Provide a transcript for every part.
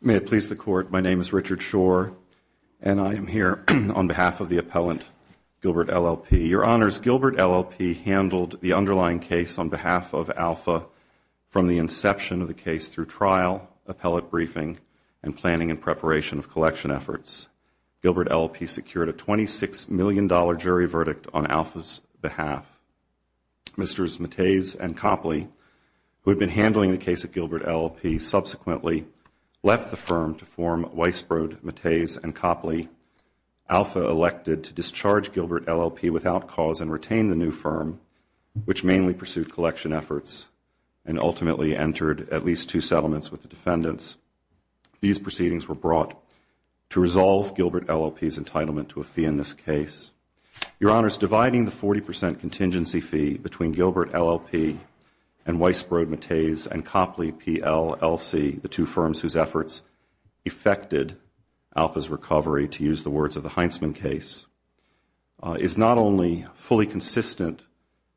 May it please the Court, my name is Richard Schor, and I am here on behalf of the appellant Gilbert LLP. Your Honors, Gilbert LLP handled the underlying case on behalf of Alpha from the inception of the case through trial, appellate briefing, and planning and preparation of collection efforts. Gilbert LLP secured a $26 million jury verdict on Alpha's behalf. Mrs. Mattes and Copley, who had been handling the case at Gilbert LLP, subsequently left the firm to form Weisbrod, Mattes, and Copley. Alpha elected to discharge Gilbert LLP without cause and retain the new firm, which mainly pursued collection efforts, and ultimately entered at least two settlements with the defendants. These proceedings were brought to resolve Gilbert LLP's entitlement to a fee in this case. Your Honors, dividing the 40 percent contingency fee between Gilbert LLP and Weisbrod, Mattes, and Copley, PLLC, the two firms whose efforts effected Alpha's recovery, to use the words of the Heintzman case, is not only fully consistent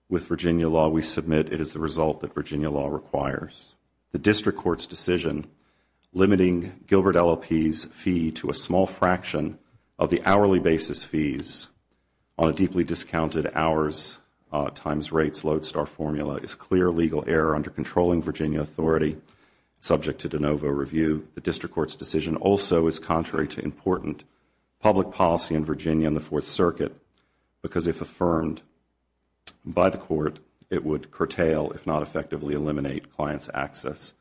with Virginia law we submit, it is the result that Virginia law requires. The District Court's decision limiting Gilbert LLP's fee to a small fraction of the hourly basis fees on a deeply discounted hours times rates load star formula is clear legal error under controlling Virginia authority, subject to de novo review. The District Court's decision also is contrary to important public policy in Virginia and the Fourth Circuit, because if affirmed by the Court, it would curtail, if not effectively eliminate, client's access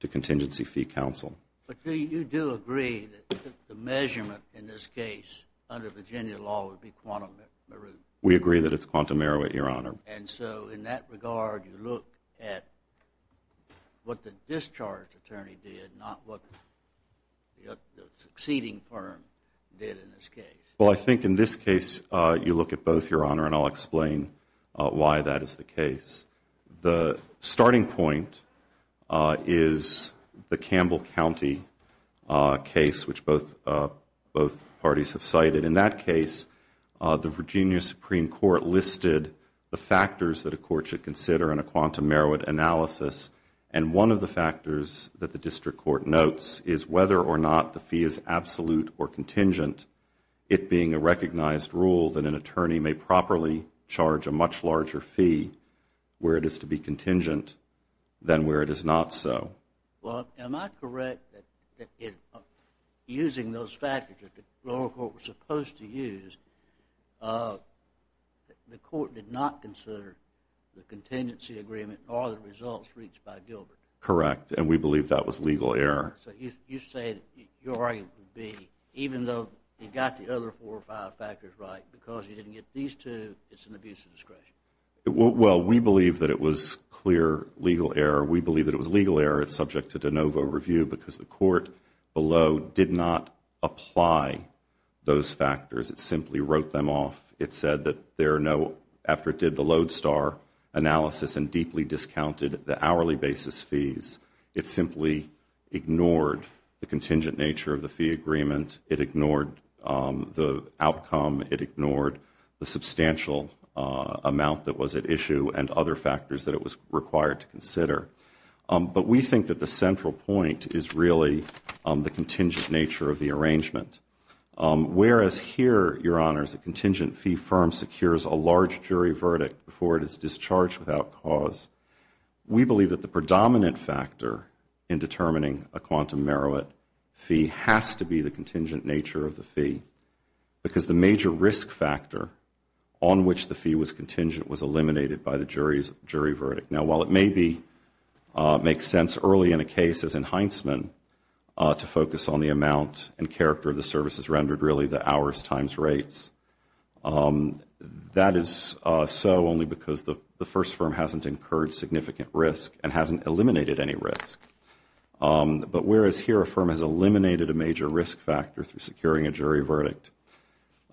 to Contingency Fee Counsel. But you do agree that the measurement in this case under Virginia law would be quantum meruit? We agree that it's quantum meruit, Your Honor. And so in that regard, you look at what the discharge attorney did, not what the succeeding firm did in this case? Well, I think in this case, you look at both, Your Honor, and I'll explain why that is the case. The starting point is the Campbell County case, which both parties have cited. In that case, the Virginia Supreme Court listed the factors that a court should consider in a quantum meruit analysis, and one of the factors that the District Court notes is whether or not the fee is absolute or contingent, it being a recognized rule that an attorney may properly charge a much larger fee where it is to be contingent than where it is not so. Well, am I correct that in using those factors that the lower court was supposed to use, the court did not consider the contingency agreement or the results reached by Gilbert? Correct. And we believe that was legal error. So you say that your argument would be, even though you got the other four or five factors right, because you didn't get these two, it's an abuse of discretion. Well, we believe that it was clear legal error. We believe that it was legal error. It's subject to de novo review because the court below did not apply those factors. It simply wrote them off. It said that there are no, after it did the Lodestar analysis and deeply discounted the hourly basis fees, it simply ignored the contingent nature of the fee agreement. It ignored the outcome. It ignored the substantial amount that was at issue and other factors that it was required to consider. But we think that the central point is really the contingent nature of the arrangement. Whereas here, Your Honors, a contingent fee firm secures a large jury verdict before it is discharged without cause, we believe that the predominant factor in determining a quantum contingent nature of the fee, because the major risk factor on which the fee was contingent was eliminated by the jury verdict. Now while it maybe makes sense early in a case as in Heintzman to focus on the amount and character of the services rendered, really the hours times rates, that is so only because the first firm hasn't incurred significant risk and hasn't eliminated any risk. But whereas here a firm has eliminated a major risk factor through securing a jury verdict,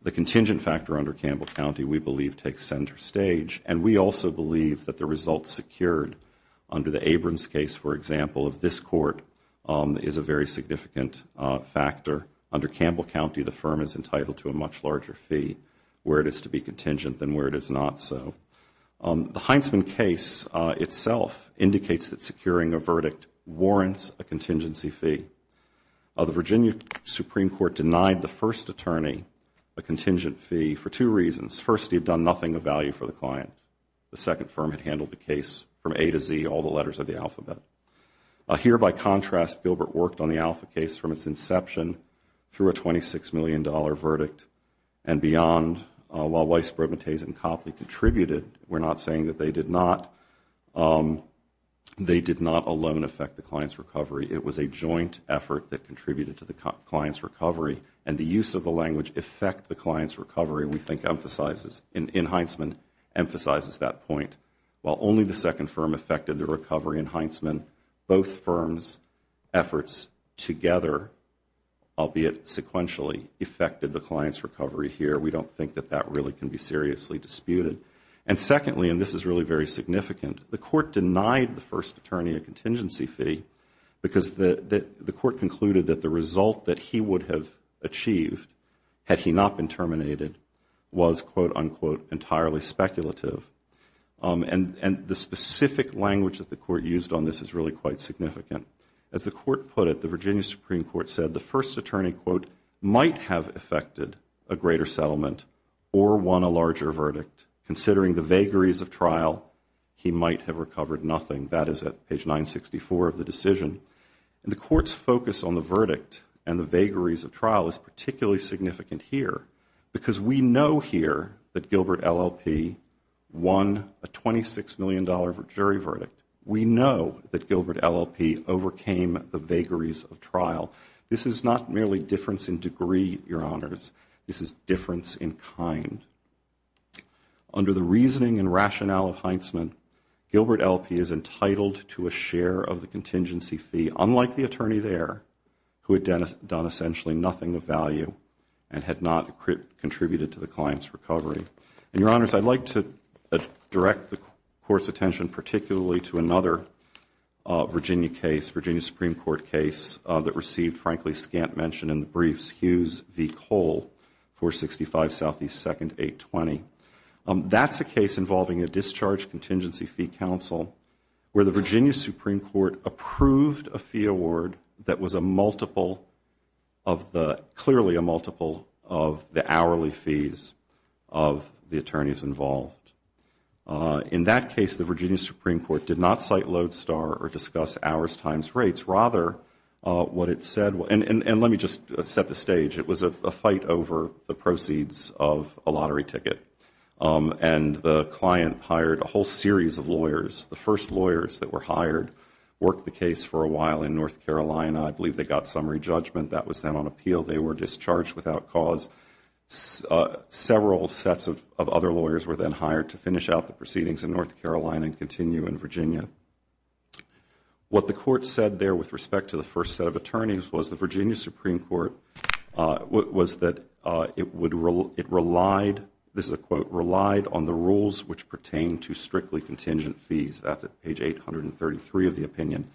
the contingent factor under Campbell County, we believe, takes center stage. And we also believe that the results secured under the Abrams case, for example, of this court is a very significant factor. Under Campbell County, the firm is entitled to a much larger fee where it is to be contingent than where it is not so. The Heintzman case itself indicates that securing a verdict warrants a contingency fee. The Virginia Supreme Court denied the first attorney a contingent fee for two reasons. First, he had done nothing of value for the client. The second firm had handled the case from A to Z, all the letters of the alphabet. Here by contrast, Gilbert worked on the Alpha case from its inception through a $26 million verdict and beyond, while Weisbrod, Mattez, and Copley contributed, we are not saying that they did not. They did not alone affect the client's recovery. It was a joint effort that contributed to the client's recovery. And the use of the language affect the client's recovery, we think, in Heintzman, emphasizes that point. While only the second firm affected the recovery in Heintzman, both firms' efforts together, albeit sequentially, affected the client's recovery here. We don't think that that really can be seriously disputed. And secondly, and this is really very significant, the court denied the first attorney a contingency fee because the court concluded that the result that he would have achieved had he not been terminated was, quote, unquote, entirely speculative. And the specific language that the court used on this is really quite significant. As the court put it, the Virginia Supreme Court said the first attorney, quote, might have affected a greater settlement or won a larger verdict, considering the vagaries of trial, he might have recovered nothing. That is at page 964 of the decision. The court's focus on the verdict and the vagaries of trial is particularly significant here because we know here that Gilbert LLP won a $26 million jury verdict. We know that Gilbert LLP overcame the vagaries of trial. This is not merely difference in degree, Your Honors. This is difference in kind. Under the reasoning and rationale of Heintzman, Gilbert LLP is entitled to a share of the contingency fee, unlike the attorney there, who had done essentially nothing of value and had not contributed to the client's recovery. And Your Honors, I'd like to direct the court's attention particularly to another Virginia case, Virginia Supreme Court case, that received, frankly, scant mention in the briefs, Hughes v. Cole, 465 Southeast 2nd, 820. That's a case involving a discharge contingency fee counsel where the Virginia Supreme Court approved a fee award that was clearly a multiple of the hourly fees of the attorneys involved. In that case, the Virginia Supreme Court did not cite Lodestar or discuss hours times rates. Rather, what it said, and let me just set the stage, it was a fight over the proceeds of a lottery ticket and the client hired a whole series of lawyers. The first lawyers that were hired worked the case for a while in North Carolina. I believe they got summary judgment. That was then on appeal. They were discharged without cause. Several sets of other lawyers were then hired to finish out the proceedings in North Carolina and continue in Virginia. What the court said there with respect to the first set of attorneys was the Virginia Supreme Court relied, this is a quote, relied on the rules which pertain to strictly contingent fees. That's at page 833 of the opinion.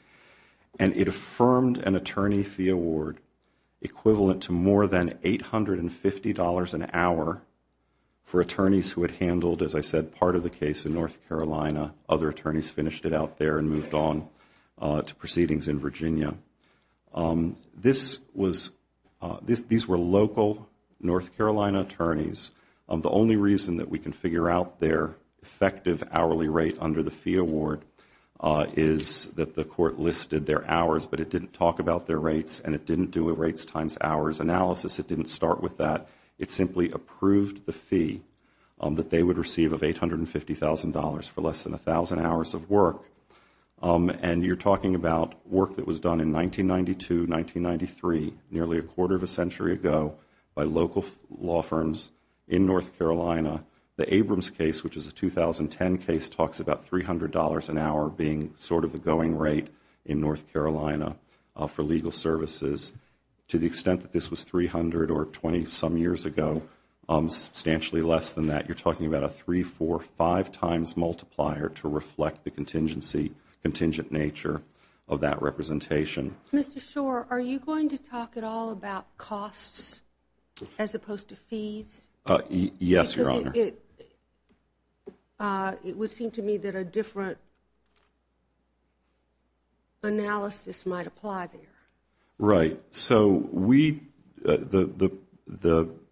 It affirmed an attorney fee award equivalent to more than $850 an hour for attorneys who had handled, as I said, part of the case in North Carolina. Other attorneys finished it out there and moved on to proceedings in Virginia. These were local North Carolina attorneys. The only reason that we can figure out their effective hourly rate under the fee award is that the court listed their hours but it didn't talk about their rates and it didn't do a rates times hours analysis. It didn't start with that. It simply approved the fee that they would receive of $850,000 for less than 1,000 hours of work. You're talking about work that was done in 1992, 1993, nearly a quarter of a century ago by local law firms in North Carolina. The Abrams case, which is a 2010 case, talks about $300 an hour being sort of the going rate in North Carolina for legal services. To the extent that this was 300 or 20 some years ago, substantially less than that. You're talking about a three, four, five times multiplier to reflect the contingent nature of that representation. Mr. Schor, are you going to talk at all about costs as opposed to fees? Yes, Your Honor. Because it would seem to me that a different analysis might apply there. Right. So the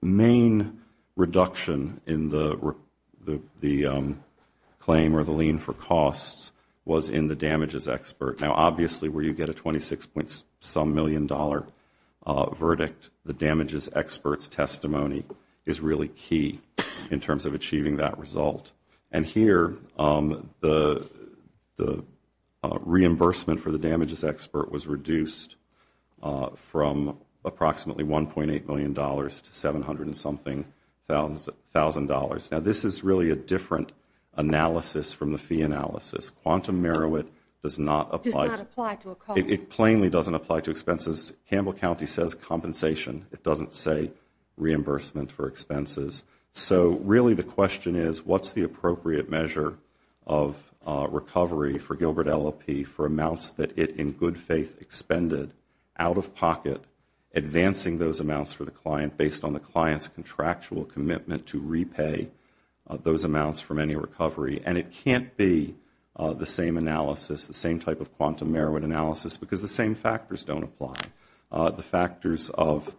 main reduction in the claim or the lien for costs was in the damages expert. Now, obviously, where you get a 26 point some million dollar verdict, the damages expert's testimony is really key in terms of achieving that result. And here, the reimbursement for the damages expert was reduced from approximately $1.8 million to $700 and something thousand dollars. Now, this is really a different analysis from the fee analysis. Quantum Merowit does not apply to expenses. Campbell County says compensation. It doesn't say reimbursement for expenses. So really the question is, what's the appropriate measure of recovery for Gilbert LLP for amounts that it in good faith expended out of pocket, advancing those amounts for the client based on the client's contractual commitment to repay those amounts from any recovery? And it can't be the same analysis, the same type of quantum Merowit analysis because the same factors don't apply. The factors of,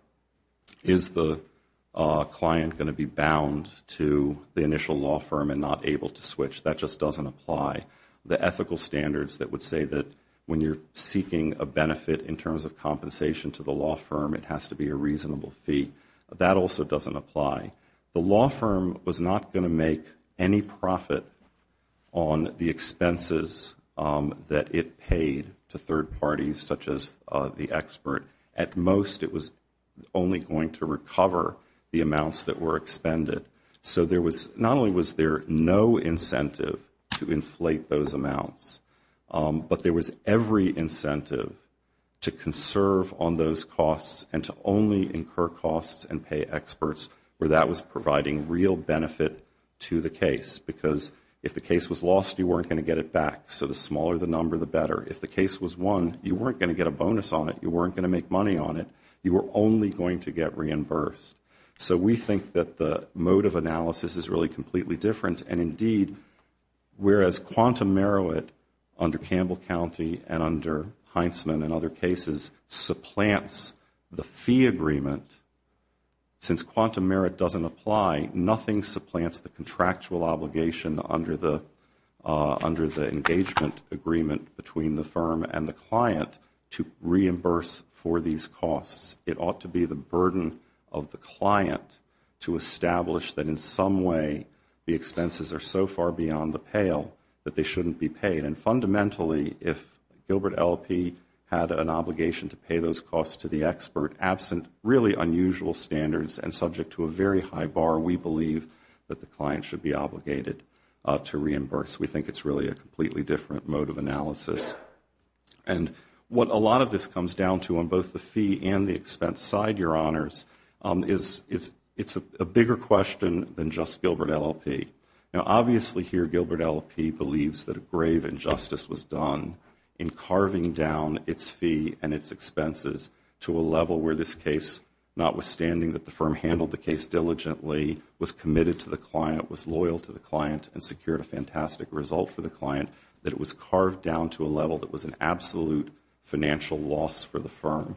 is the client going to be bound to the initial law firm and not able to switch? That just doesn't apply. The ethical standards that would say that when you're seeking a benefit in terms of compensation to the law firm, it has to be a reasonable fee. That also doesn't apply. The law firm was not going to make any profit on the expenses that it paid to third parties such as the expert. At most, it was only going to recover the amounts that were expended. So there was, not only was there no incentive to inflate those amounts, but there was every that was providing real benefit to the case because if the case was lost, you weren't going to get it back. So the smaller the number, the better. If the case was won, you weren't going to get a bonus on it. You weren't going to make money on it. You were only going to get reimbursed. So we think that the mode of analysis is really completely different. And indeed, whereas quantum Merowit under Campbell County and under Heintzman and other doesn't apply, nothing supplants the contractual obligation under the engagement agreement between the firm and the client to reimburse for these costs. It ought to be the burden of the client to establish that in some way, the expenses are so far beyond the pale that they shouldn't be paid. And fundamentally, if Gilbert LLP had an obligation to pay those costs to the expert absent really high bar, we believe that the client should be obligated to reimburse. We think it's really a completely different mode of analysis. And what a lot of this comes down to on both the fee and the expense side, Your Honors, it's a bigger question than just Gilbert LLP. Now, obviously here, Gilbert LLP believes that a grave injustice was done in carving down its fee and its expenses to a level where this case, notwithstanding that the firm handled the case diligently, was committed to the client, was loyal to the client and secured a fantastic result for the client, that it was carved down to a level that was an absolute financial loss for the firm.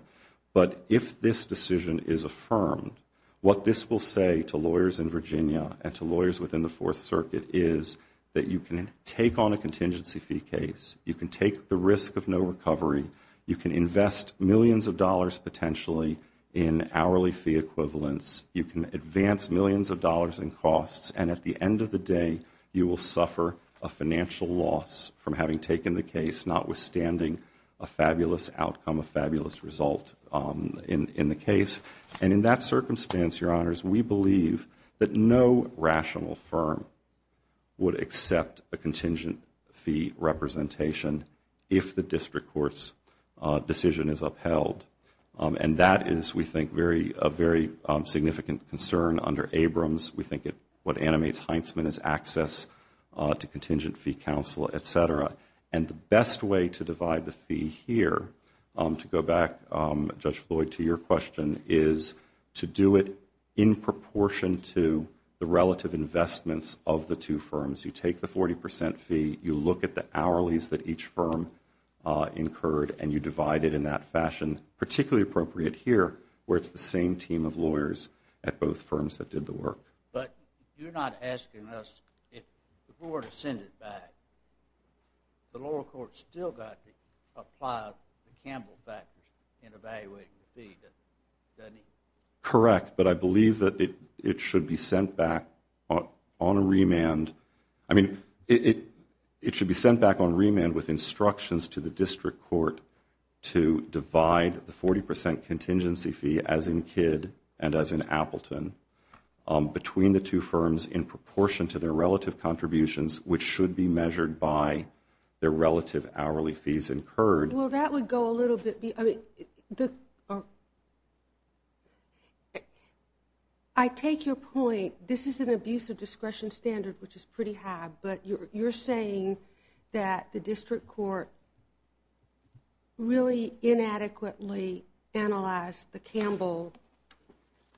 But if this decision is affirmed, what this will say to lawyers in Virginia and to lawyers within the Fourth Circuit is that you can take on a contingency fee case, you can take the risk of no recovery, you can invest millions of dollars potentially in hourly fee equivalents, you can advance millions of dollars in costs, and at the end of the day, you will suffer a financial loss from having taken the case, notwithstanding a fabulous outcome, a fabulous result in the case. And in that circumstance, Your Honors, we believe that no rational firm would accept a contingent fee representation if the district court's decision is upheld. And that is, we think, a very significant concern under Abrams. We think what animates Heintzman is access to contingent fee counsel, et cetera. And the best way to divide the fee here, to go back, Judge Floyd, to your question, is to do it in proportion to the relative investments of the two firms. You take the 40 percent fee, you look at the hourlies that each firm incurred and you divide it in that fashion, particularly appropriate here, where it's the same team of lawyers at both firms that did the work. But you're not asking us if we were to send it back. The lower court still got to apply the Campbell factor in evaluating the fee, doesn't it? Correct, but I believe that it should be sent back on a remand, I mean, it should be sent back on remand with instructions to the district court to divide the 40 percent contingency fee, as in Kidd and as in Appleton, between the two firms in proportion to their relative contributions, which should be measured by their relative hourly fees incurred. Well, that would go a little bit, I mean, I take your point, this is an abuse of discretion standard which is pretty high, but you're saying that the district court really inadequately analyzed the Campbell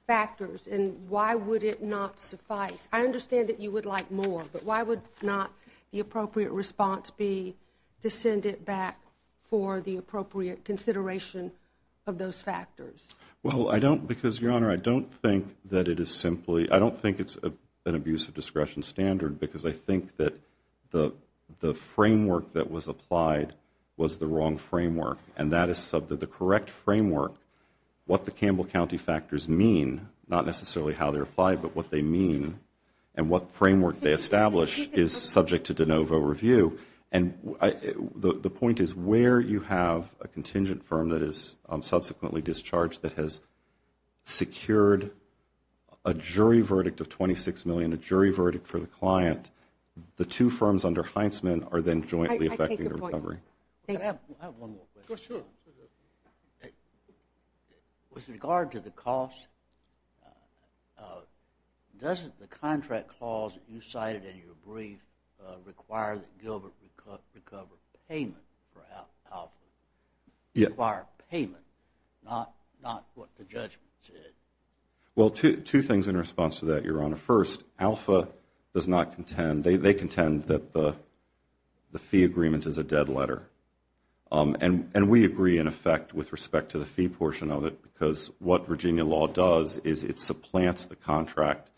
factors and why would it not suffice? I understand that you would like more, but why would not the appropriate response be to send it back for the appropriate consideration of those factors? Well, I don't, because Your Honor, I don't think that it is simply, I don't think it's an abuse of discretion standard because I think that the framework that was applied was the wrong framework and that is subject to the correct framework, what the Campbell County factors mean, not necessarily how they're applied, but what they mean and what framework they establish is subject to de novo review and the point is where you have a contingent firm that is subsequently discharged that has secured a jury verdict of $26 million, a jury verdict for the client, the two firms under Heintzman are then jointly effecting a recovery. I have one more question. Go ahead. With regard to the cost, doesn't the contract clause that you cited in your brief require that Gilbert recover payment for Alpha, require payment, not what the judgment said? Well, two things in response to that, Your Honor. First, Alpha does not contend, they contend that the fee agreement is a dead letter and we agree in effect with respect to the fee portion of it because what Virginia law does is it supplants the contract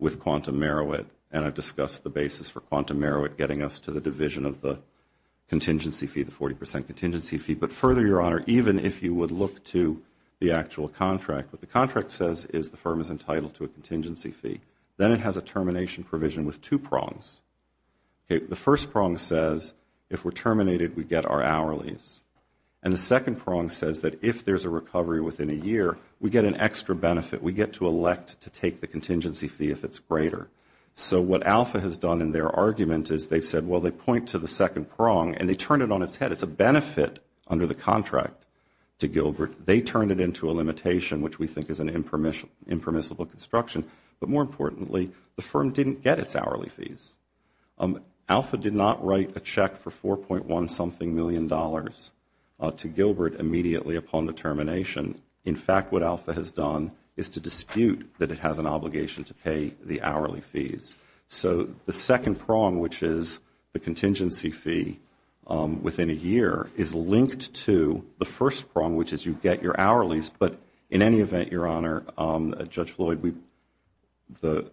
with Quantum Merowith and I've discussed the basis for this to the division of the contingency fee, the 40 percent contingency fee. But further, Your Honor, even if you would look to the actual contract, what the contract says is the firm is entitled to a contingency fee. Then it has a termination provision with two prongs. The first prong says if we're terminated, we get our hourlies and the second prong says that if there's a recovery within a year, we get an extra benefit. We get to elect to take the contingency fee if it's greater. So what Alpha has done in their argument is they've said, well, they point to the second prong and they turn it on its head. It's a benefit under the contract to Gilbert. They turn it into a limitation, which we think is an impermissible construction. But more importantly, the firm didn't get its hourly fees. Alpha did not write a check for $4.1 something million to Gilbert immediately upon the termination. In fact, what Alpha has done is to dispute that it has an obligation to pay the hourly fees. So the second prong, which is the contingency fee within a year, is linked to the first prong, which is you get your hourlies. But in any event, Your Honor, Judge Floyd, the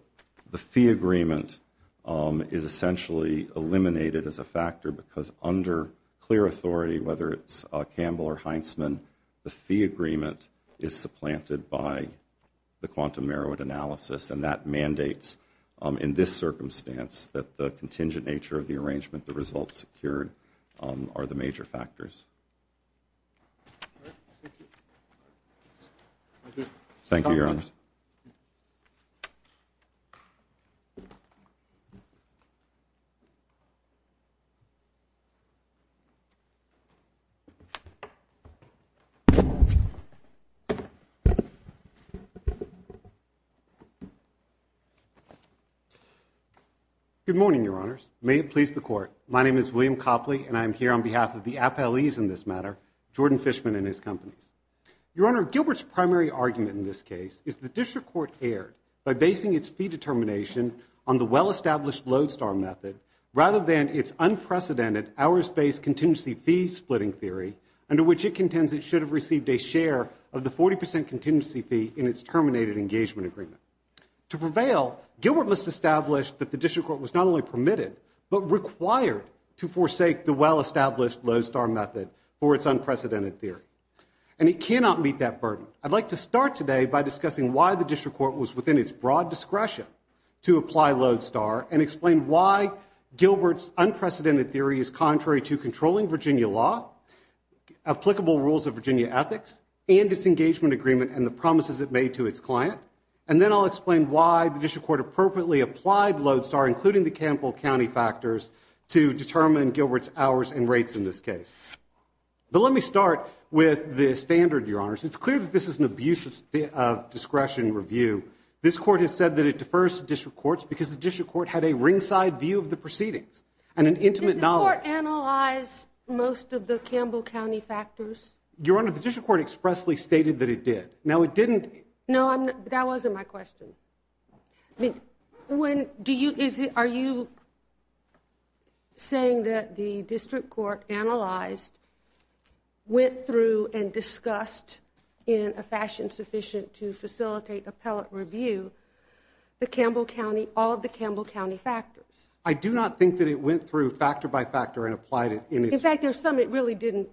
fee agreement is essentially eliminated as a factor because under clear authority, whether it's Campbell or Heintzman, the fee agreement is supplanted by the quantum merit analysis, and that mandates in this circumstance that the contingent nature of the arrangement, the results secured, are the major factors. Good morning, Your Honors. May it please the Court. My name is William Copley, and I am here on behalf of the appellees in this matter, Jordan Fishman and his companies. Your Honor, Gilbert's primary argument in this case is the district court erred by basing its fee determination on the well-established lodestar method rather than its unprecedented hours-based contingency fee splitting theory under which it contends it should have received a share of the 40 percent contingency fee in its terminated engagement agreement. To prevail, Gilbert must establish that the district court was not only permitted but required to forsake the well-established lodestar method for its unprecedented theory. And it cannot meet that burden. I'd like to start today by discussing why the district court was within its broad discretion to apply lodestar and explain why Gilbert's unprecedented theory is contrary to controlling Virginia law, applicable rules of Virginia ethics, and its engagement agreement and the promises it made to its client. And then I'll explain why the district court appropriately applied lodestar, including the Campbell County factors, to determine Gilbert's hours and rates in this case. But let me start with the standard, Your Honors. It's clear that this is an abuse of discretion review. This court has said that it defers to district courts because the district court had a ringside view of the proceedings and an intimate knowledge. Did the court analyze most of the Campbell County factors? Your Honor, the district court expressly stated that it did. Now it didn't. No, I'm not. That wasn't my question. I mean, when, do you, is it, are you saying that the district court analyzed, went through and discussed in a fashion sufficient to facilitate appellate review, the Campbell County, all of the Campbell County factors? I do not think that it went through factor by factor and applied it. In fact, there's some it really didn't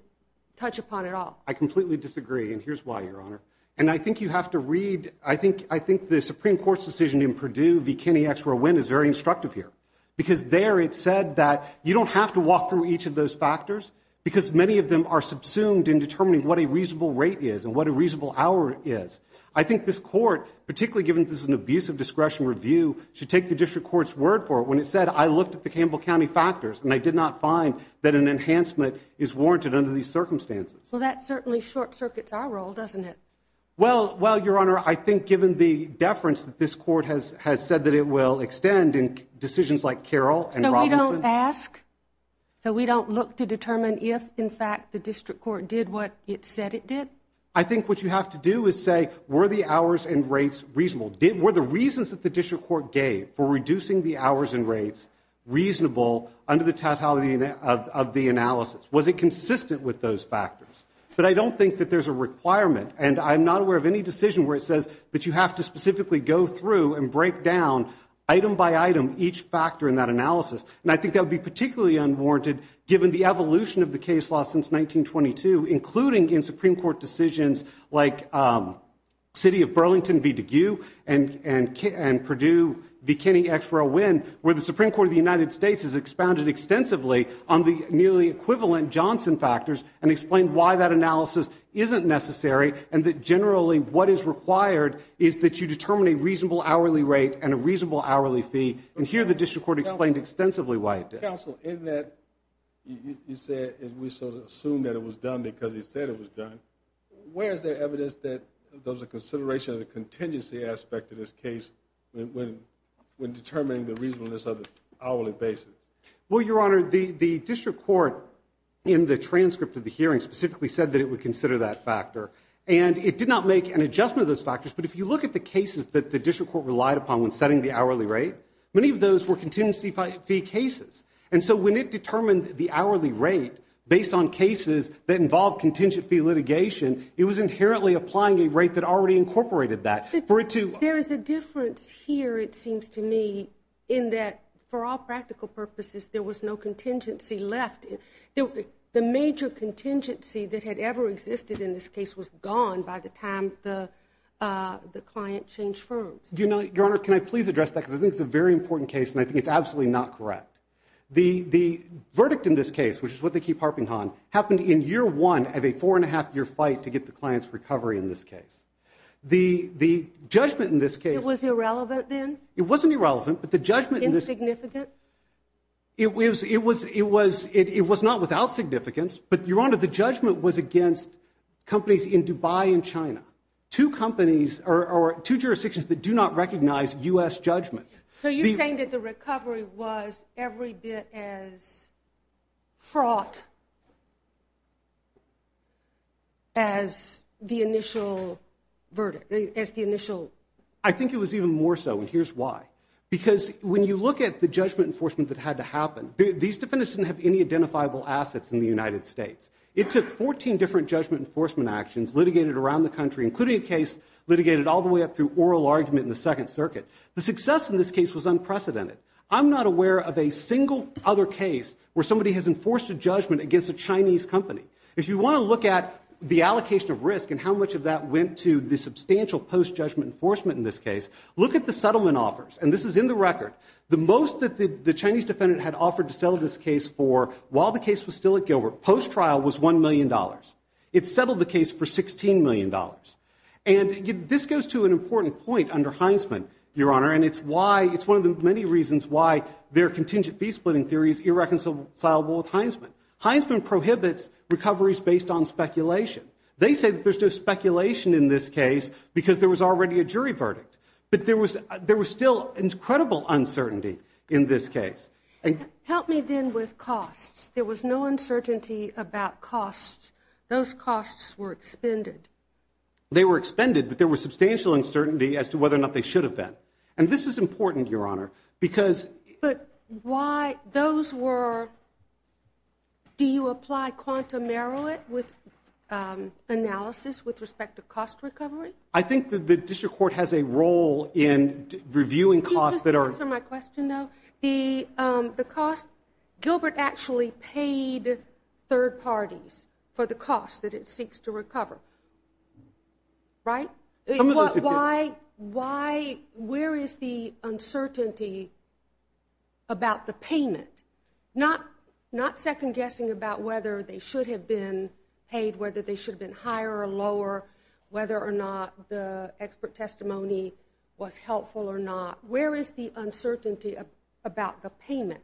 touch upon at all. I completely disagree. And here's why, Your Honor. And I think you have to read, I think, I think the Supreme Court's decision in Purdue v. Kenney extra win is very instructive here because there it said that you don't have to walk through each of those factors because many of them are subsumed in determining what a reasonable rate is and what a reasonable hour is. I think this court, particularly given this is an abuse of discretion review, should take the district court's word for it. When it said, I looked at the Campbell County factors and I did not find that an enhancement is warranted under these circumstances. Well, that certainly short circuits our role, doesn't it? Well, well, Your Honor, I think given the deference that this court has, has said that it will extend in decisions like Carol and Robinson, so we don't look to determine if in fact the district court did what it said it did. I think what you have to do is say, were the hours and rates reasonable, did, were the reasons that the district court gave for reducing the hours and rates reasonable under the totality of the analysis? Was it consistent with those factors? But I don't think that there's a requirement and I'm not aware of any decision where it says that you have to specifically go through and break down item by item each factor in that analysis. And I think that would be particularly unwarranted given the evolution of the case law since 1922, including in Supreme Court decisions like, um, city of Burlington v. DeGue and, and, and Purdue v. Kenney X for a win, where the Supreme Court of the United States has expounded extensively on the nearly equivalent Johnson factors and explained why that analysis isn't necessary. And that generally what is required is that you determine a reasonable hourly rate and a reasonable hourly fee. And here the district court explained extensively why it did. Counsel, in that, you said, we sort of assumed that it was done because he said it was done. Where's the evidence that there was a consideration of the contingency aspect of this case when, when determining the reasonableness of the hourly basis? Well, Your Honor, the, the district court in the transcript of the hearing specifically said that it would consider that factor and it did not make an adjustment of those factors. But if you look at the cases that the district court relied upon when setting the hourly rate, many of those were contingency fee cases. And so when it determined the hourly rate based on cases that involve contingency litigation, it was inherently applying a rate that already incorporated that for it to, there is a difference here. It seems to me in that for all practical purposes, there was no contingency left. The major contingency that had ever existed in this case was gone by the time the, uh, the client changed firms. If you know, Your Honor, can I please address that because I think it's a very important case and I think it's absolutely not correct. The, the verdict in this case, which is what they keep harping on, happened in year one of a four and a half year fight to get the client's recovery in this case. The, the judgment in this case, It was irrelevant then? It wasn't irrelevant, but the judgment, Insignificant? It was, it was, it was, it was not without significance, but Your Honor, the judgment was against companies in Dubai and China. Two companies, or two jurisdictions that do not recognize U.S. judgments. So you're saying that the recovery was every bit as fraught as the initial verdict, as the initial? I think it was even more so, and here's why. Because when you look at the judgment enforcement that had to happen, these defendants didn't have any identifiable assets in the United States. It took 14 different judgment enforcement actions litigated around the country, including a case litigated all the way up through oral argument in the Second Circuit. The success in this case was unprecedented. I'm not aware of a single other case where somebody has enforced a judgment against a Chinese company. If you want to look at the allocation of risk and how much of that went to the substantial post-judgment enforcement in this case, look at the settlement offers. And this is in the record. The most that the, the Chinese defendant had offered to settle this case for while the was $1 million. It settled the case for $16 million. And this goes to an important point under Heisman, Your Honor, and it's why, it's one of the many reasons why their contingent fee splitting theory is irreconcilable with Heisman. Heisman prohibits recoveries based on speculation. They say that there's no speculation in this case because there was already a jury verdict. But there was, there was still incredible uncertainty in this case. Help me then with costs. There was no uncertainty about costs. Those costs were expended. They were expended, but there was substantial uncertainty as to whether or not they should have been. And this is important, Your Honor, because. But why those were, do you apply quantum narrow it with analysis with respect to cost recovery? I think that the district court has a role in reviewing costs that are. To answer my question, though, the cost, Gilbert actually paid third parties for the costs that it seeks to recover, right? Why, why, where is the uncertainty about the payment? Not, not second guessing about whether they should have been paid, whether they should have been higher or lower, whether or not the expert testimony was helpful or not. Where is the uncertainty about the payment?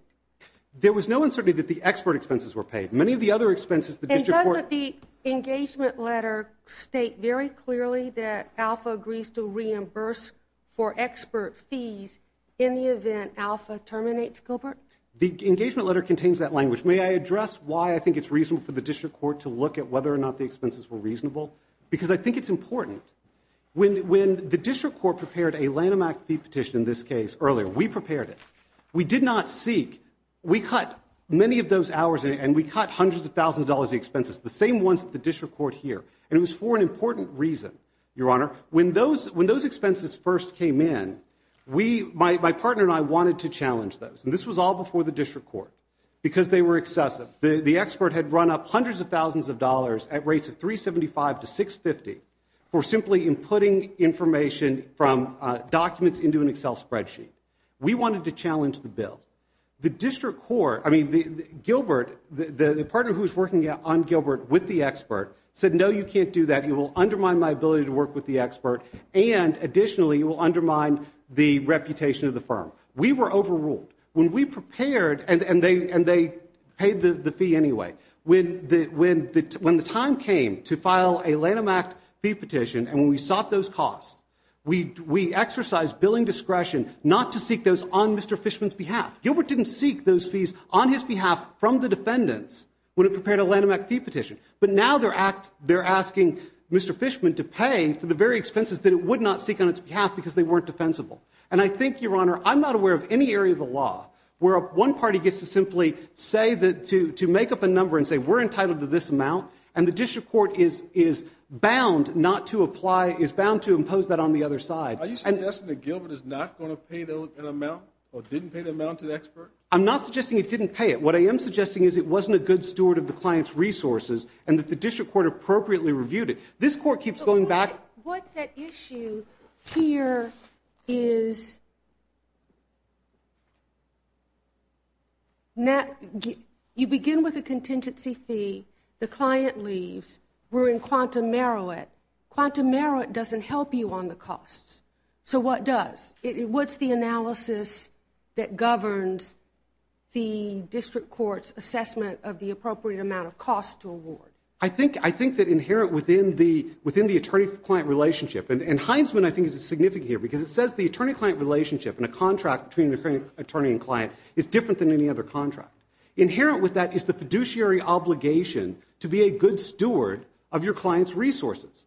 There was no uncertainty that the expert expenses were paid. Many of the other expenses, the district court. And doesn't the engagement letter state very clearly that Alpha agrees to reimburse for expert fees in the event Alpha terminates Gilbert? The engagement letter contains that language. May I address why I think it's reasonable for the district court to look at whether or not the expenses were reasonable? Because I think it's important. When, when the district court prepared a Lanham Act fee petition in this case earlier, we prepared it. We did not seek, we cut many of those hours and we cut hundreds of thousands of dollars in expenses, the same ones that the district court here. And it was for an important reason, Your Honor. When those, when those expenses first came in, we, my, my partner and I wanted to challenge those. And this was all before the district court because they were excessive. The expert had run up hundreds of thousands of dollars at rates of $375 to $650 for simply inputting information from documents into an Excel spreadsheet. We wanted to challenge the bill. The district court, I mean, Gilbert, the partner who was working on Gilbert with the expert said, no, you can't do that. You will undermine my ability to work with the expert. And additionally, you will undermine the reputation of the firm. We were overruled. When we prepared and they, and they paid the fee anyway, when the, when the, when the time came to file a Lanham Act fee petition and when we sought those costs, we, we exercised billing discretion not to seek those on Mr. Fishman's behalf. Gilbert didn't seek those fees on his behalf from the defendants when it prepared a Lanham Act fee petition. But now they're asking Mr. Fishman to pay for the very expenses that it would not seek on its behalf because they weren't defensible. And I think, Your Honor, I'm not aware of any area of the law where one party gets to simply say that to, to make up a number and say, we're entitled to this amount. And the district court is, is bound not to apply, is bound to impose that on the other side. Are you suggesting that Gilbert is not going to pay an amount or didn't pay the amount to the expert? I'm not suggesting it didn't pay it. What I am suggesting is it wasn't a good steward of the client's resources and that the district court appropriately reviewed it. This court keeps going back. But what's at issue here is, you begin with a contingency fee, the client leaves, we're in quantum merit. Quantum merit doesn't help you on the costs. So what does? What's the analysis that governs the district court's assessment of the appropriate amount of costs to award? I think, I think that inherent within the, within the attorney-client relationship, and Heinsman I think is significant here because it says the attorney-client relationship in a contract between attorney and client is different than any other contract. Inherent with that is the fiduciary obligation to be a good steward of your client's resources.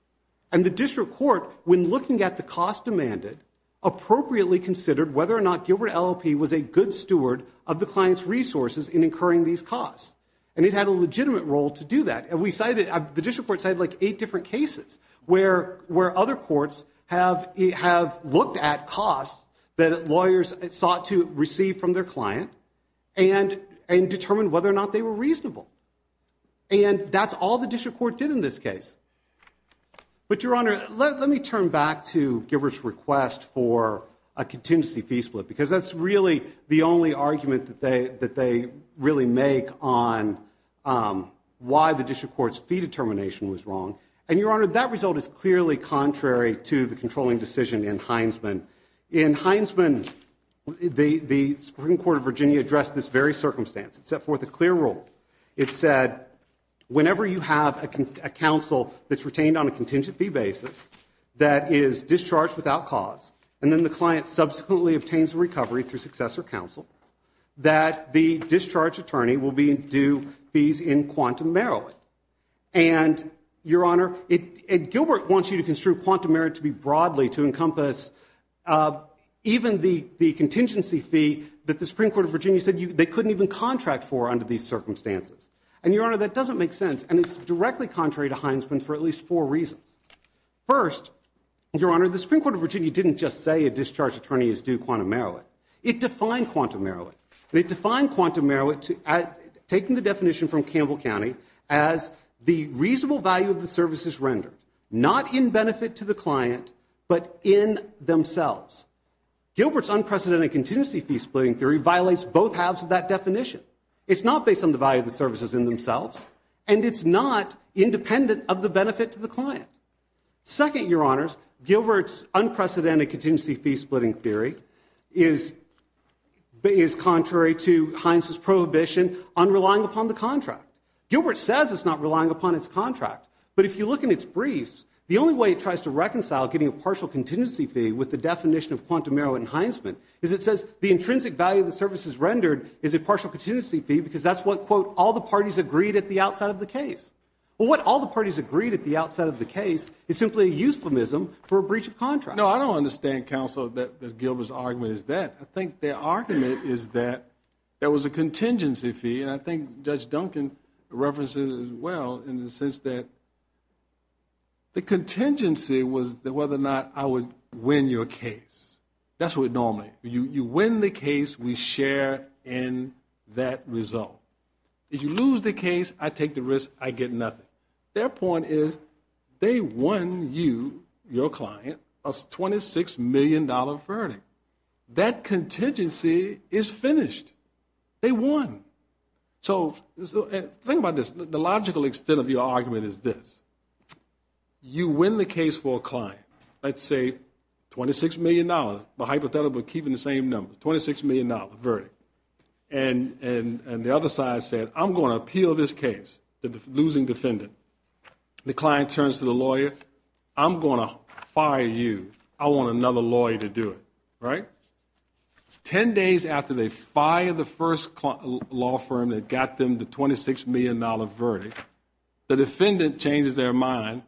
And the district court, when looking at the cost demanded, appropriately considered whether or not Gilbert LLP was a good steward of the client's resources in incurring these costs. And it had a legitimate role to do that. The district court cited like eight different cases where other courts have looked at costs that lawyers sought to receive from their client and determined whether or not they were reasonable. And that's all the district court did in this case. But Your Honor, let me turn back to Gilbert's request for a contingency fee split. Because that's really the only argument that they, that they really make on why the district court's fee determination was wrong. And Your Honor, that result is clearly contrary to the controlling decision in Heinsman. In Heinsman, the, the Supreme Court of Virginia addressed this very circumstance. It set forth a clear rule. It said whenever you have a counsel that's retained on a contingency basis that is discharged without cause, and then the client subsequently obtains a recovery through successor counsel, that the discharge attorney will be due fees in Quantum, Maryland. And Your Honor, it, it, Gilbert wants you to construe Quantum, Maryland to be broadly to encompass even the, the contingency fee that the Supreme Court of Virginia said you, they couldn't even contract for under these circumstances. And Your Honor, that doesn't make sense. And it's directly contrary to Heinsman for at least four reasons. First, Your Honor, the Supreme Court of Virginia didn't just say a discharge attorney is due Quantum, Maryland. It defined Quantum, Maryland. It defined Quantum, Maryland to, taking the definition from Campbell County as the reasonable value of the services rendered, not in benefit to the client, but in themselves. Gilbert's unprecedented contingency fee splitting theory violates both halves of that definition. It's not based on the value of the services in themselves. And it's not independent of the benefit to the client. Second, Your Honors, Gilbert's unprecedented contingency fee splitting theory is, is contrary to Heinsman's prohibition on relying upon the contract. Gilbert says it's not relying upon its contract. But if you look in its briefs, the only way it tries to reconcile getting a partial contingency fee with the definition of Quantum, Maryland and Heinsman is it says the intrinsic value of the services rendered is a partial contingency fee because that's what, quote, all the parties agreed at the outside of the case. Well, what all the parties agreed at the outside of the case is simply a euphemism for a breach of contract. No, I don't understand, Counsel, that Gilbert's argument is that. I think their argument is that there was a contingency fee, and I think Judge Duncan references it as well, in the sense that the contingency was whether or not I would win your case. That's what it normally, you win the case, we share in that result. If you lose the case, I take the risk, I get nothing. Their point is they won you, your client, a $26 million verdict. That contingency is finished. They won. So think about this, the logical extent of your argument is this. You win the case for a client, let's say $26 million, but hypothetically keeping the same number, $26 million verdict. And the other side said, I'm going to appeal this case, the losing defendant. The client turns to the lawyer, I'm going to fire you. I want another lawyer to do it, right? Ten days after they fire the first law firm that got them the $26 million verdict, the defendant changes their mind,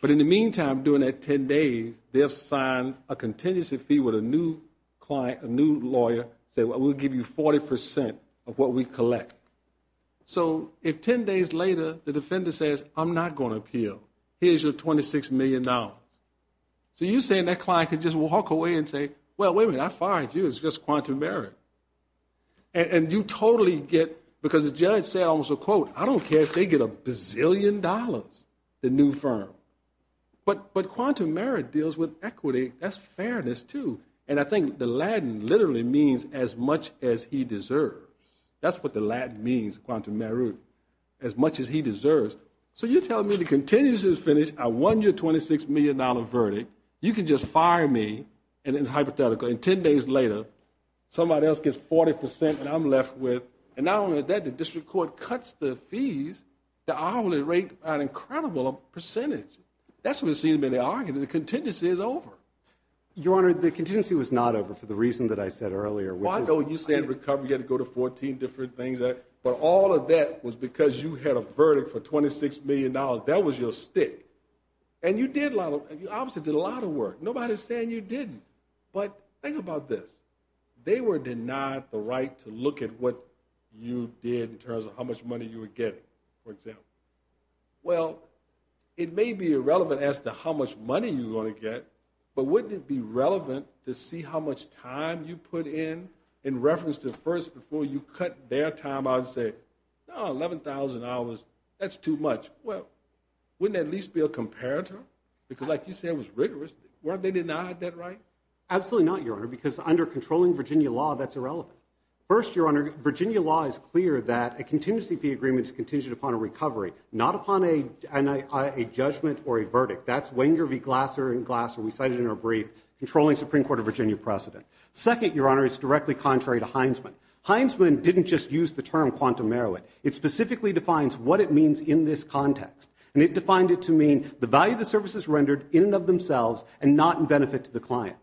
but in the meantime during that ten days, they have signed a contingency fee with a new client, a new lawyer, saying we'll give you 40% of what we collect. So if ten days later the defendant says, I'm not going to appeal, here's your $26 million. So you're saying that client could just walk away and say, well, wait a minute, I fired you, it's just quantum merit. And you totally get, because the judge said almost a quote, I don't care if they get a bazillion dollars, the new firm. But quantum merit deals with equity, that's fairness too. And I think the Latin literally means as much as he deserves. That's what the Latin means, quantum merit, as much as he deserves. So you're telling me the contingency is finished, I won your $26 million verdict, you can just fire me, and it's hypothetical, and ten days later somebody else gets 40% and I'm left with, and not only that, the district court cuts the fees to an incredible percentage. That's what it seems to be the argument, the contingency is over. Your Honor, the contingency was not over for the reason that I said earlier, which is- Well I know you said recovery, you had to go to 14 different things, but all of that was because you had a verdict for $26 million, that was your stick. And you did a lot of, obviously did a lot of work, nobody's saying you didn't. But think about this, they were denied the right to look at what you did in terms of how much money you were getting, for example. Well it may be irrelevant as to how much money you're going to get, but wouldn't it be relevant to see how much time you put in, in reference to first before you cut their time out and say, no $11,000, that's too much. Well wouldn't that at least be a comparator? Because like you said, it was rigorous, why'd they deny that right? Absolutely not, Your Honor, because under controlling Virginia law, that's irrelevant. First Your Honor, Virginia law is clear that a contingency fee agreement is contingent upon a recovery, not upon a judgment or a verdict. That's Wenger v. Glasser and Glasser, we cited in our brief, controlling Supreme Court of Virginia precedent. Second, Your Honor, it's directly contrary to Heinsman. Heinsman didn't just use the term quantum merit, it specifically defines what it means in this context. And it defined it to mean the value of the services rendered in and of themselves and not in benefit to the client.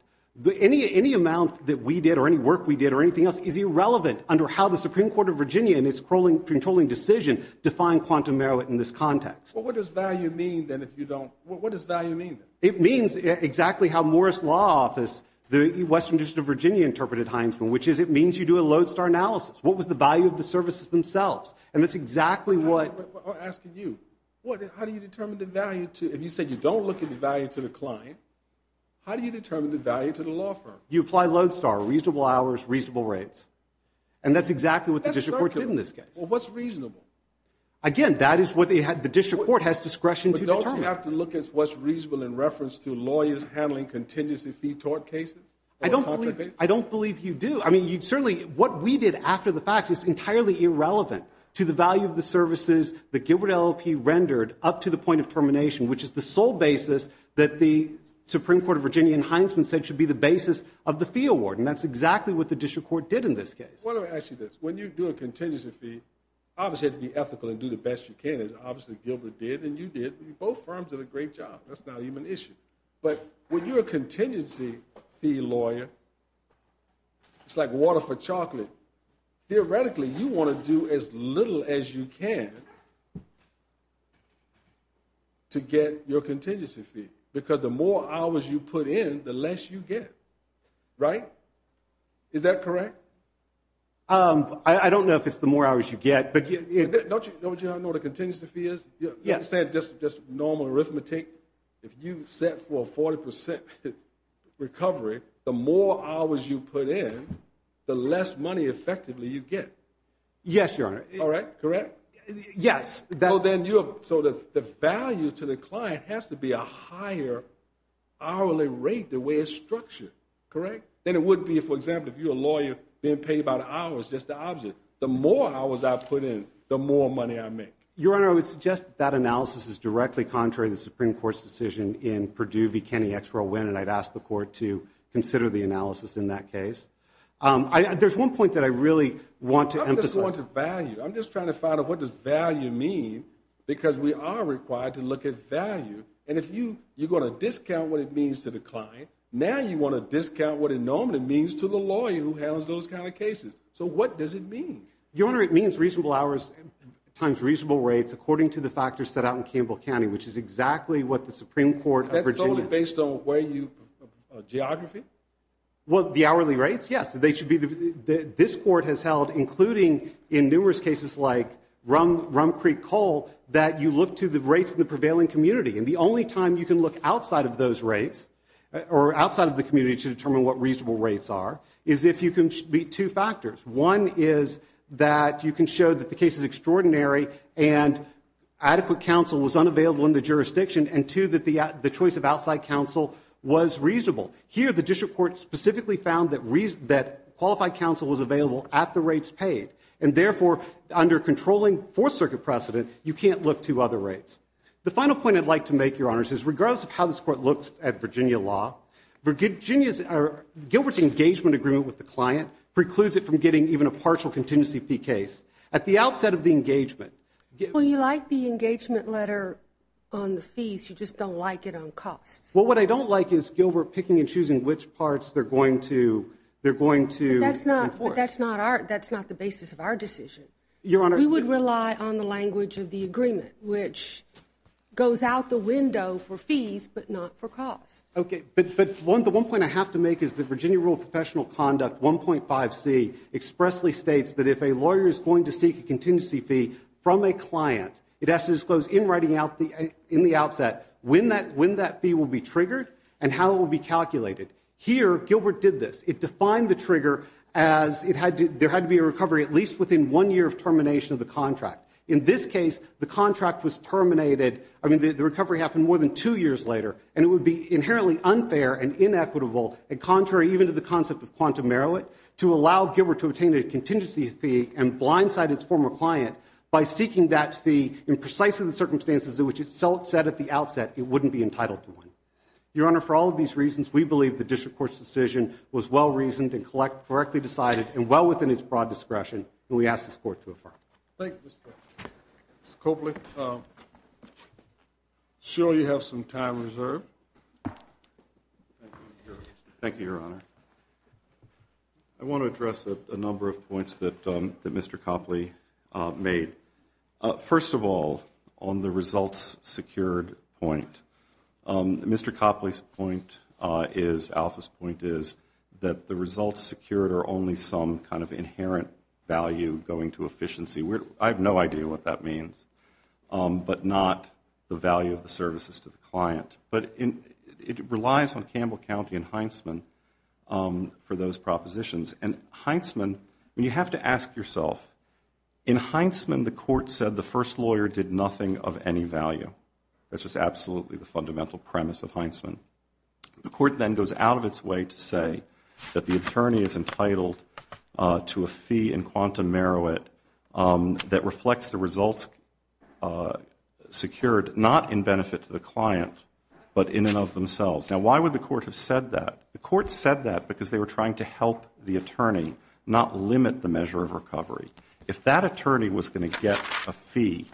Any amount that we did or any work we did or anything else is irrelevant under how the Supreme Court of Virginia and its controlling decision define quantum merit in this context. What does value mean then if you don't, what does value mean? It means exactly how Morris Law Office, the Western District of Virginia interpreted Heinsman, which is it means you do a lodestar analysis. What was the value of the services themselves? And that's exactly what... I'm asking you. How do you determine the value to, if you say you don't look at the value to the client, how do you determine the value to the law firm? You apply lodestar, reasonable hours, reasonable rates. And that's exactly what the district court did in this case. What's reasonable? Again, that is what the district court has discretion to determine. But don't you have to look at what's reasonable in reference to lawyers handling contingency fee tort cases? I don't believe you do. I mean, you'd certainly... What we did after the fact is entirely irrelevant to the value of the services that Gilbert LLP rendered up to the point of termination, which is the sole basis that the Supreme Court of Virginia and Heinsman said should be the basis of the fee award. And that's exactly what the district court did in this case. Well, let me ask you this. When you do a contingency fee, obviously, you have to be ethical and do the best you can, as obviously Gilbert did and you did. Both firms did a great job. That's not even an issue. But when you're a contingency fee lawyer, it's like water for chocolate. Theoretically, you want to do as little as you can to get your contingency fee, because the more hours you put in, the less you get, right? Is that correct? I don't know if it's the more hours you get, but... Don't you know what a contingency fee is? Yeah. I'm not saying it's just normal arithmetic. If you set for a 40% recovery, the more hours you put in, the less money effectively you get. Yes, Your Honor. All right? Correct? Yes. So the value to the client has to be a higher hourly rate the way it's structured, correct? Then it wouldn't be, for example, if you're a lawyer being paid about an hour, it's just the opposite. The more hours I put in, the more money I make. Your Honor, I would suggest that analysis is directly contrary to the Supreme Court's decision in Perdue v. Kenney, X for a win, and I'd ask the Court to consider the analysis in that case. There's one point that I really want to emphasize. I'm not just going to value. I'm just trying to find out what does value mean, because we are required to look at value. And if you're going to discount what it means to the client, now you want to discount what it normally means to the lawyer who handles those kind of cases. So what does it mean? Your Honor, it means reasonable hours times reasonable rates according to the factors set out in Campbell County, which is exactly what the Supreme Court of Virginia... Is that solely based on where you... geography? Well, the hourly rates? Yes. They should be... This Court has held, including in numerous cases like Rum Creek Coal, that you look to the rates in the prevailing community. And the only time you can look outside of those rates, or outside of the community to determine what reasonable rates are, is if you can meet two factors. One is that you can show that the case is extraordinary and adequate counsel was unavailable in the jurisdiction. And two, that the choice of outside counsel was reasonable. Here the district court specifically found that qualified counsel was available at the rates paid. And therefore, under controlling Fourth Circuit precedent, you can't look to other rates. The final point I'd like to make, Your Honors, is regardless of how this Court looks at Virginia law, Virginia's... Gilbert's engagement agreement with the client precludes it from getting even a partial contingency fee case. At the outset of the engagement... Well, you like the engagement letter on the fees, you just don't like it on costs. Well, what I don't like is Gilbert picking and choosing which parts they're going to... They're going to enforce. But that's not... That's not our... That's not the basis of our decision. Your Honor... We would rely on the language of the agreement, which goes out the window for fees, but not for costs. Okay. But one... The one point I have to make is that Virginia Rule of Professional Conduct 1.5c expressly states that if a lawyer is going to seek a contingency fee from a client, it has to disclose in writing out the... In the outset when that fee will be triggered and how it will be calculated. Here Gilbert did this. It defined the trigger as it had to... There had to be a recovery at least within one year of termination of the contract. In this case, the contract was terminated... It would be inherently unfair and inequitable and contrary even to the concept of quantum merit to allow Gilbert to obtain a contingency fee and blindside its former client by seeking that fee in precisely the circumstances in which itself said at the outset it wouldn't be entitled to one. Your Honor, for all of these reasons, we believe the district court's decision was well-reasoned and correctly decided and well within its broad discretion, and we ask this court to affirm. Thank you, Mr. Coakley. Mr. Coakley, I'm sure you have some time reserved. Thank you, Your Honor. I want to address a number of points that Mr. Coakley made. First of all, on the results secured point, Mr. Coakley's point is, Alpha's point is, that the results secured are only some kind of inherent value going to efficiency. I have no idea what that means, but not the value of the services to the client. It relies on Campbell County and Heintzman for those propositions. You have to ask yourself, in Heintzman, the court said the first lawyer did nothing of any value. That's just absolutely the fundamental premise of Heintzman. The court then goes out of its way to say that the attorney is entitled to a fee in quanta meruit, that reflects the results secured, not in benefit to the client, but in and of themselves. Now, why would the court have said that? The court said that because they were trying to help the attorney, not limit the measure of recovery. If that attorney was going to get a fee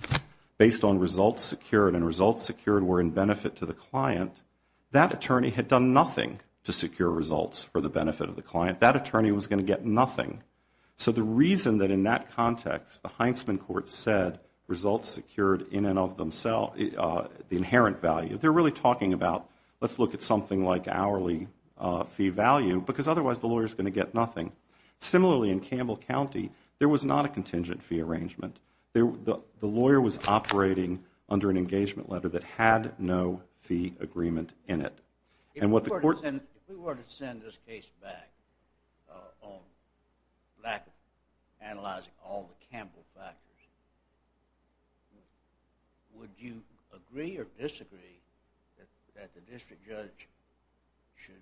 based on results secured, and results secured were in benefit to the client, that attorney had done nothing to secure results for the benefit of the client. That attorney was going to get nothing. So the reason that in that context, the Heintzman court said results secured in and of themselves, the inherent value. They're really talking about, let's look at something like hourly fee value, because otherwise the lawyer's going to get nothing. Similarly, in Campbell County, there was not a contingent fee arrangement. The lawyer was operating under an engagement letter that had no fee agreement in it. If we were to send this case back on lack of analyzing all the Campbell factors, would you agree or disagree that the district judge should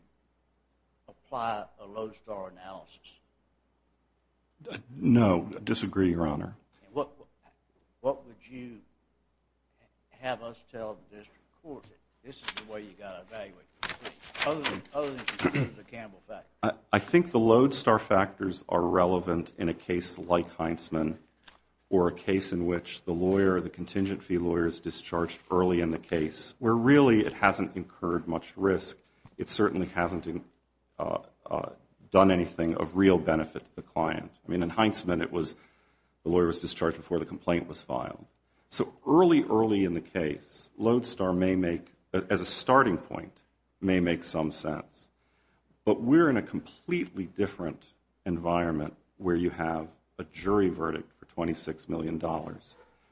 apply a low star analysis? No, I disagree, your honor. What would you have us tell the district court, this is the way you've got to evaluate this case, other than the Campbell factors? I think the low star factors are relevant in a case like Heintzman, or a case in which the lawyer, the contingent fee lawyer, is discharged early in the case, where really it hasn't incurred much risk. It certainly hasn't done anything of real benefit to the client. In Heintzman, the lawyer was discharged before the complaint was filed. So early, early in the case, low star may make, as a starting point, may make some sense. But we're in a completely different environment where you have a jury verdict for $26 million,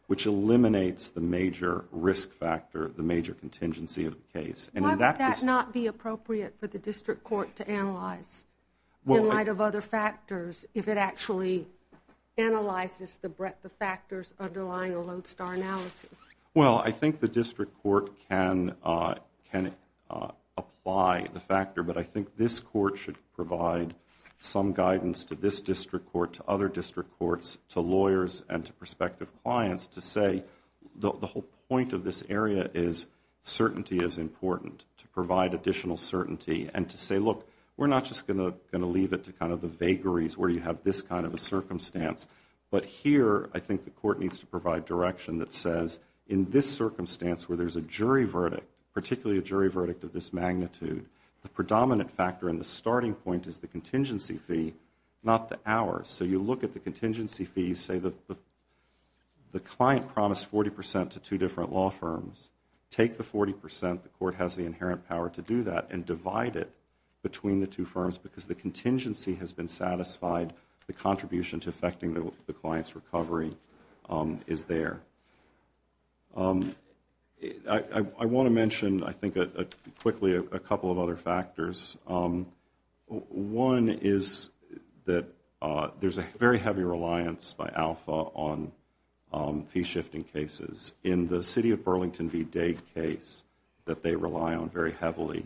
which eliminates the major risk factor, the major contingency of the case. Why would that not be appropriate for the district court to analyze, in light of other cases, actually analyze the factors underlying a low star analysis? Well, I think the district court can apply the factor, but I think this court should provide some guidance to this district court, to other district courts, to lawyers, and to prospective clients, to say the whole point of this area is certainty is important, to provide additional certainty, and to say, look, we're not just going to leave it to the vagaries where you have this kind of a circumstance. But here, I think the court needs to provide direction that says, in this circumstance where there's a jury verdict, particularly a jury verdict of this magnitude, the predominant factor and the starting point is the contingency fee, not the hours. So you look at the contingency fee, you say the client promised 40% to two different law firms. Take the 40%, the court has the inherent power to do that, and divide it between the two has been satisfied, the contribution to affecting the client's recovery is there. I want to mention, I think, quickly, a couple of other factors. One is that there's a very heavy reliance by Alpha on fee-shifting cases. In the city of Burlington v. Dade case that they rely on very heavily,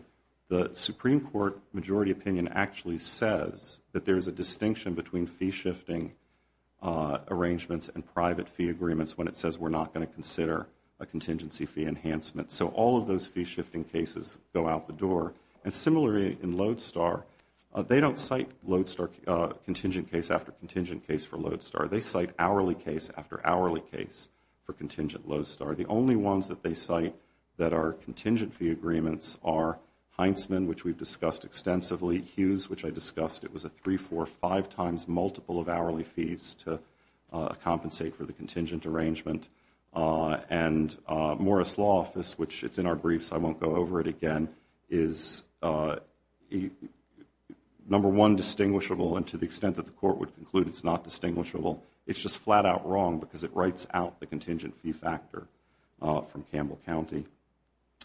the Supreme Court majority opinion actually says that there's a distinction between fee-shifting arrangements and private fee agreements when it says we're not going to consider a contingency fee enhancement. So all of those fee-shifting cases go out the door. And similarly, in Lodestar, they don't cite contingent case after contingent case for Lodestar. They cite hourly case after hourly case for contingent Lodestar. The only ones that they cite that are contingent fee agreements are Heintzman, which we've discussed extensively, Hughes, which I discussed, it was a three, four, five times multiple of hourly fees to compensate for the contingent arrangement. And Morris Law Office, which it's in our briefs, I won't go over it again, is number one distinguishable and to the extent that the court would conclude it's not distinguishable. It's just flat out wrong because it writes out the contingent fee factor from Campbell County.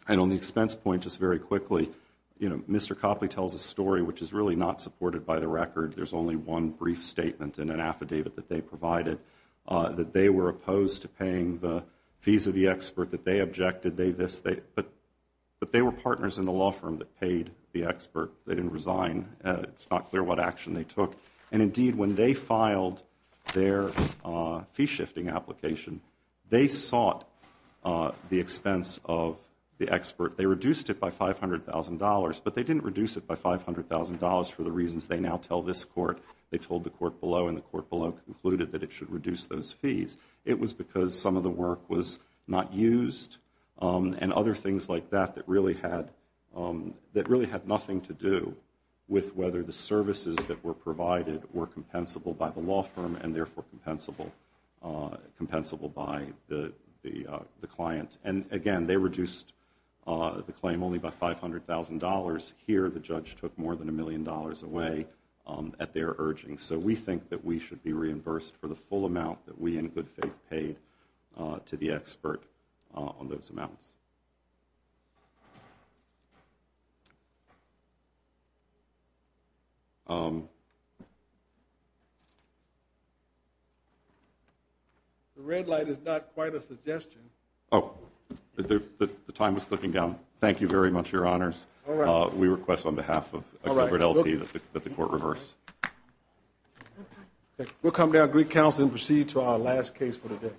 And on the expense point, just very quickly, you know, Mr. Copley tells a story which is really not supported by the record. There's only one brief statement in an affidavit that they provided, that they were opposed to paying the fees of the expert, that they objected, they this, they, but they were partners in the law firm that paid the expert. They didn't resign. It's not clear what action they took. And indeed, when they filed their fee shifting application, they sought the expense of the expert. They reduced it by $500,000, but they didn't reduce it by $500,000 for the reasons they now tell this court. They told the court below and the court below concluded that it should reduce those fees. It was because some of the work was not used and other things like that that really had nothing to do with whether the services that were provided were compensable by the law firm and therefore compensable by the client. And again, they reduced the claim only by $500,000. Here the judge took more than a million dollars away at their urging. So we think that we should be reimbursed for the full amount that we in good faith paid to the expert on those amounts. The red light is not quite a suggestion. The time is clicking down. Thank you very much, Your Honors. We request on behalf of Gilbert L.T. that the court reverse. We'll come to our Greek counsel and proceed to our last case for the day.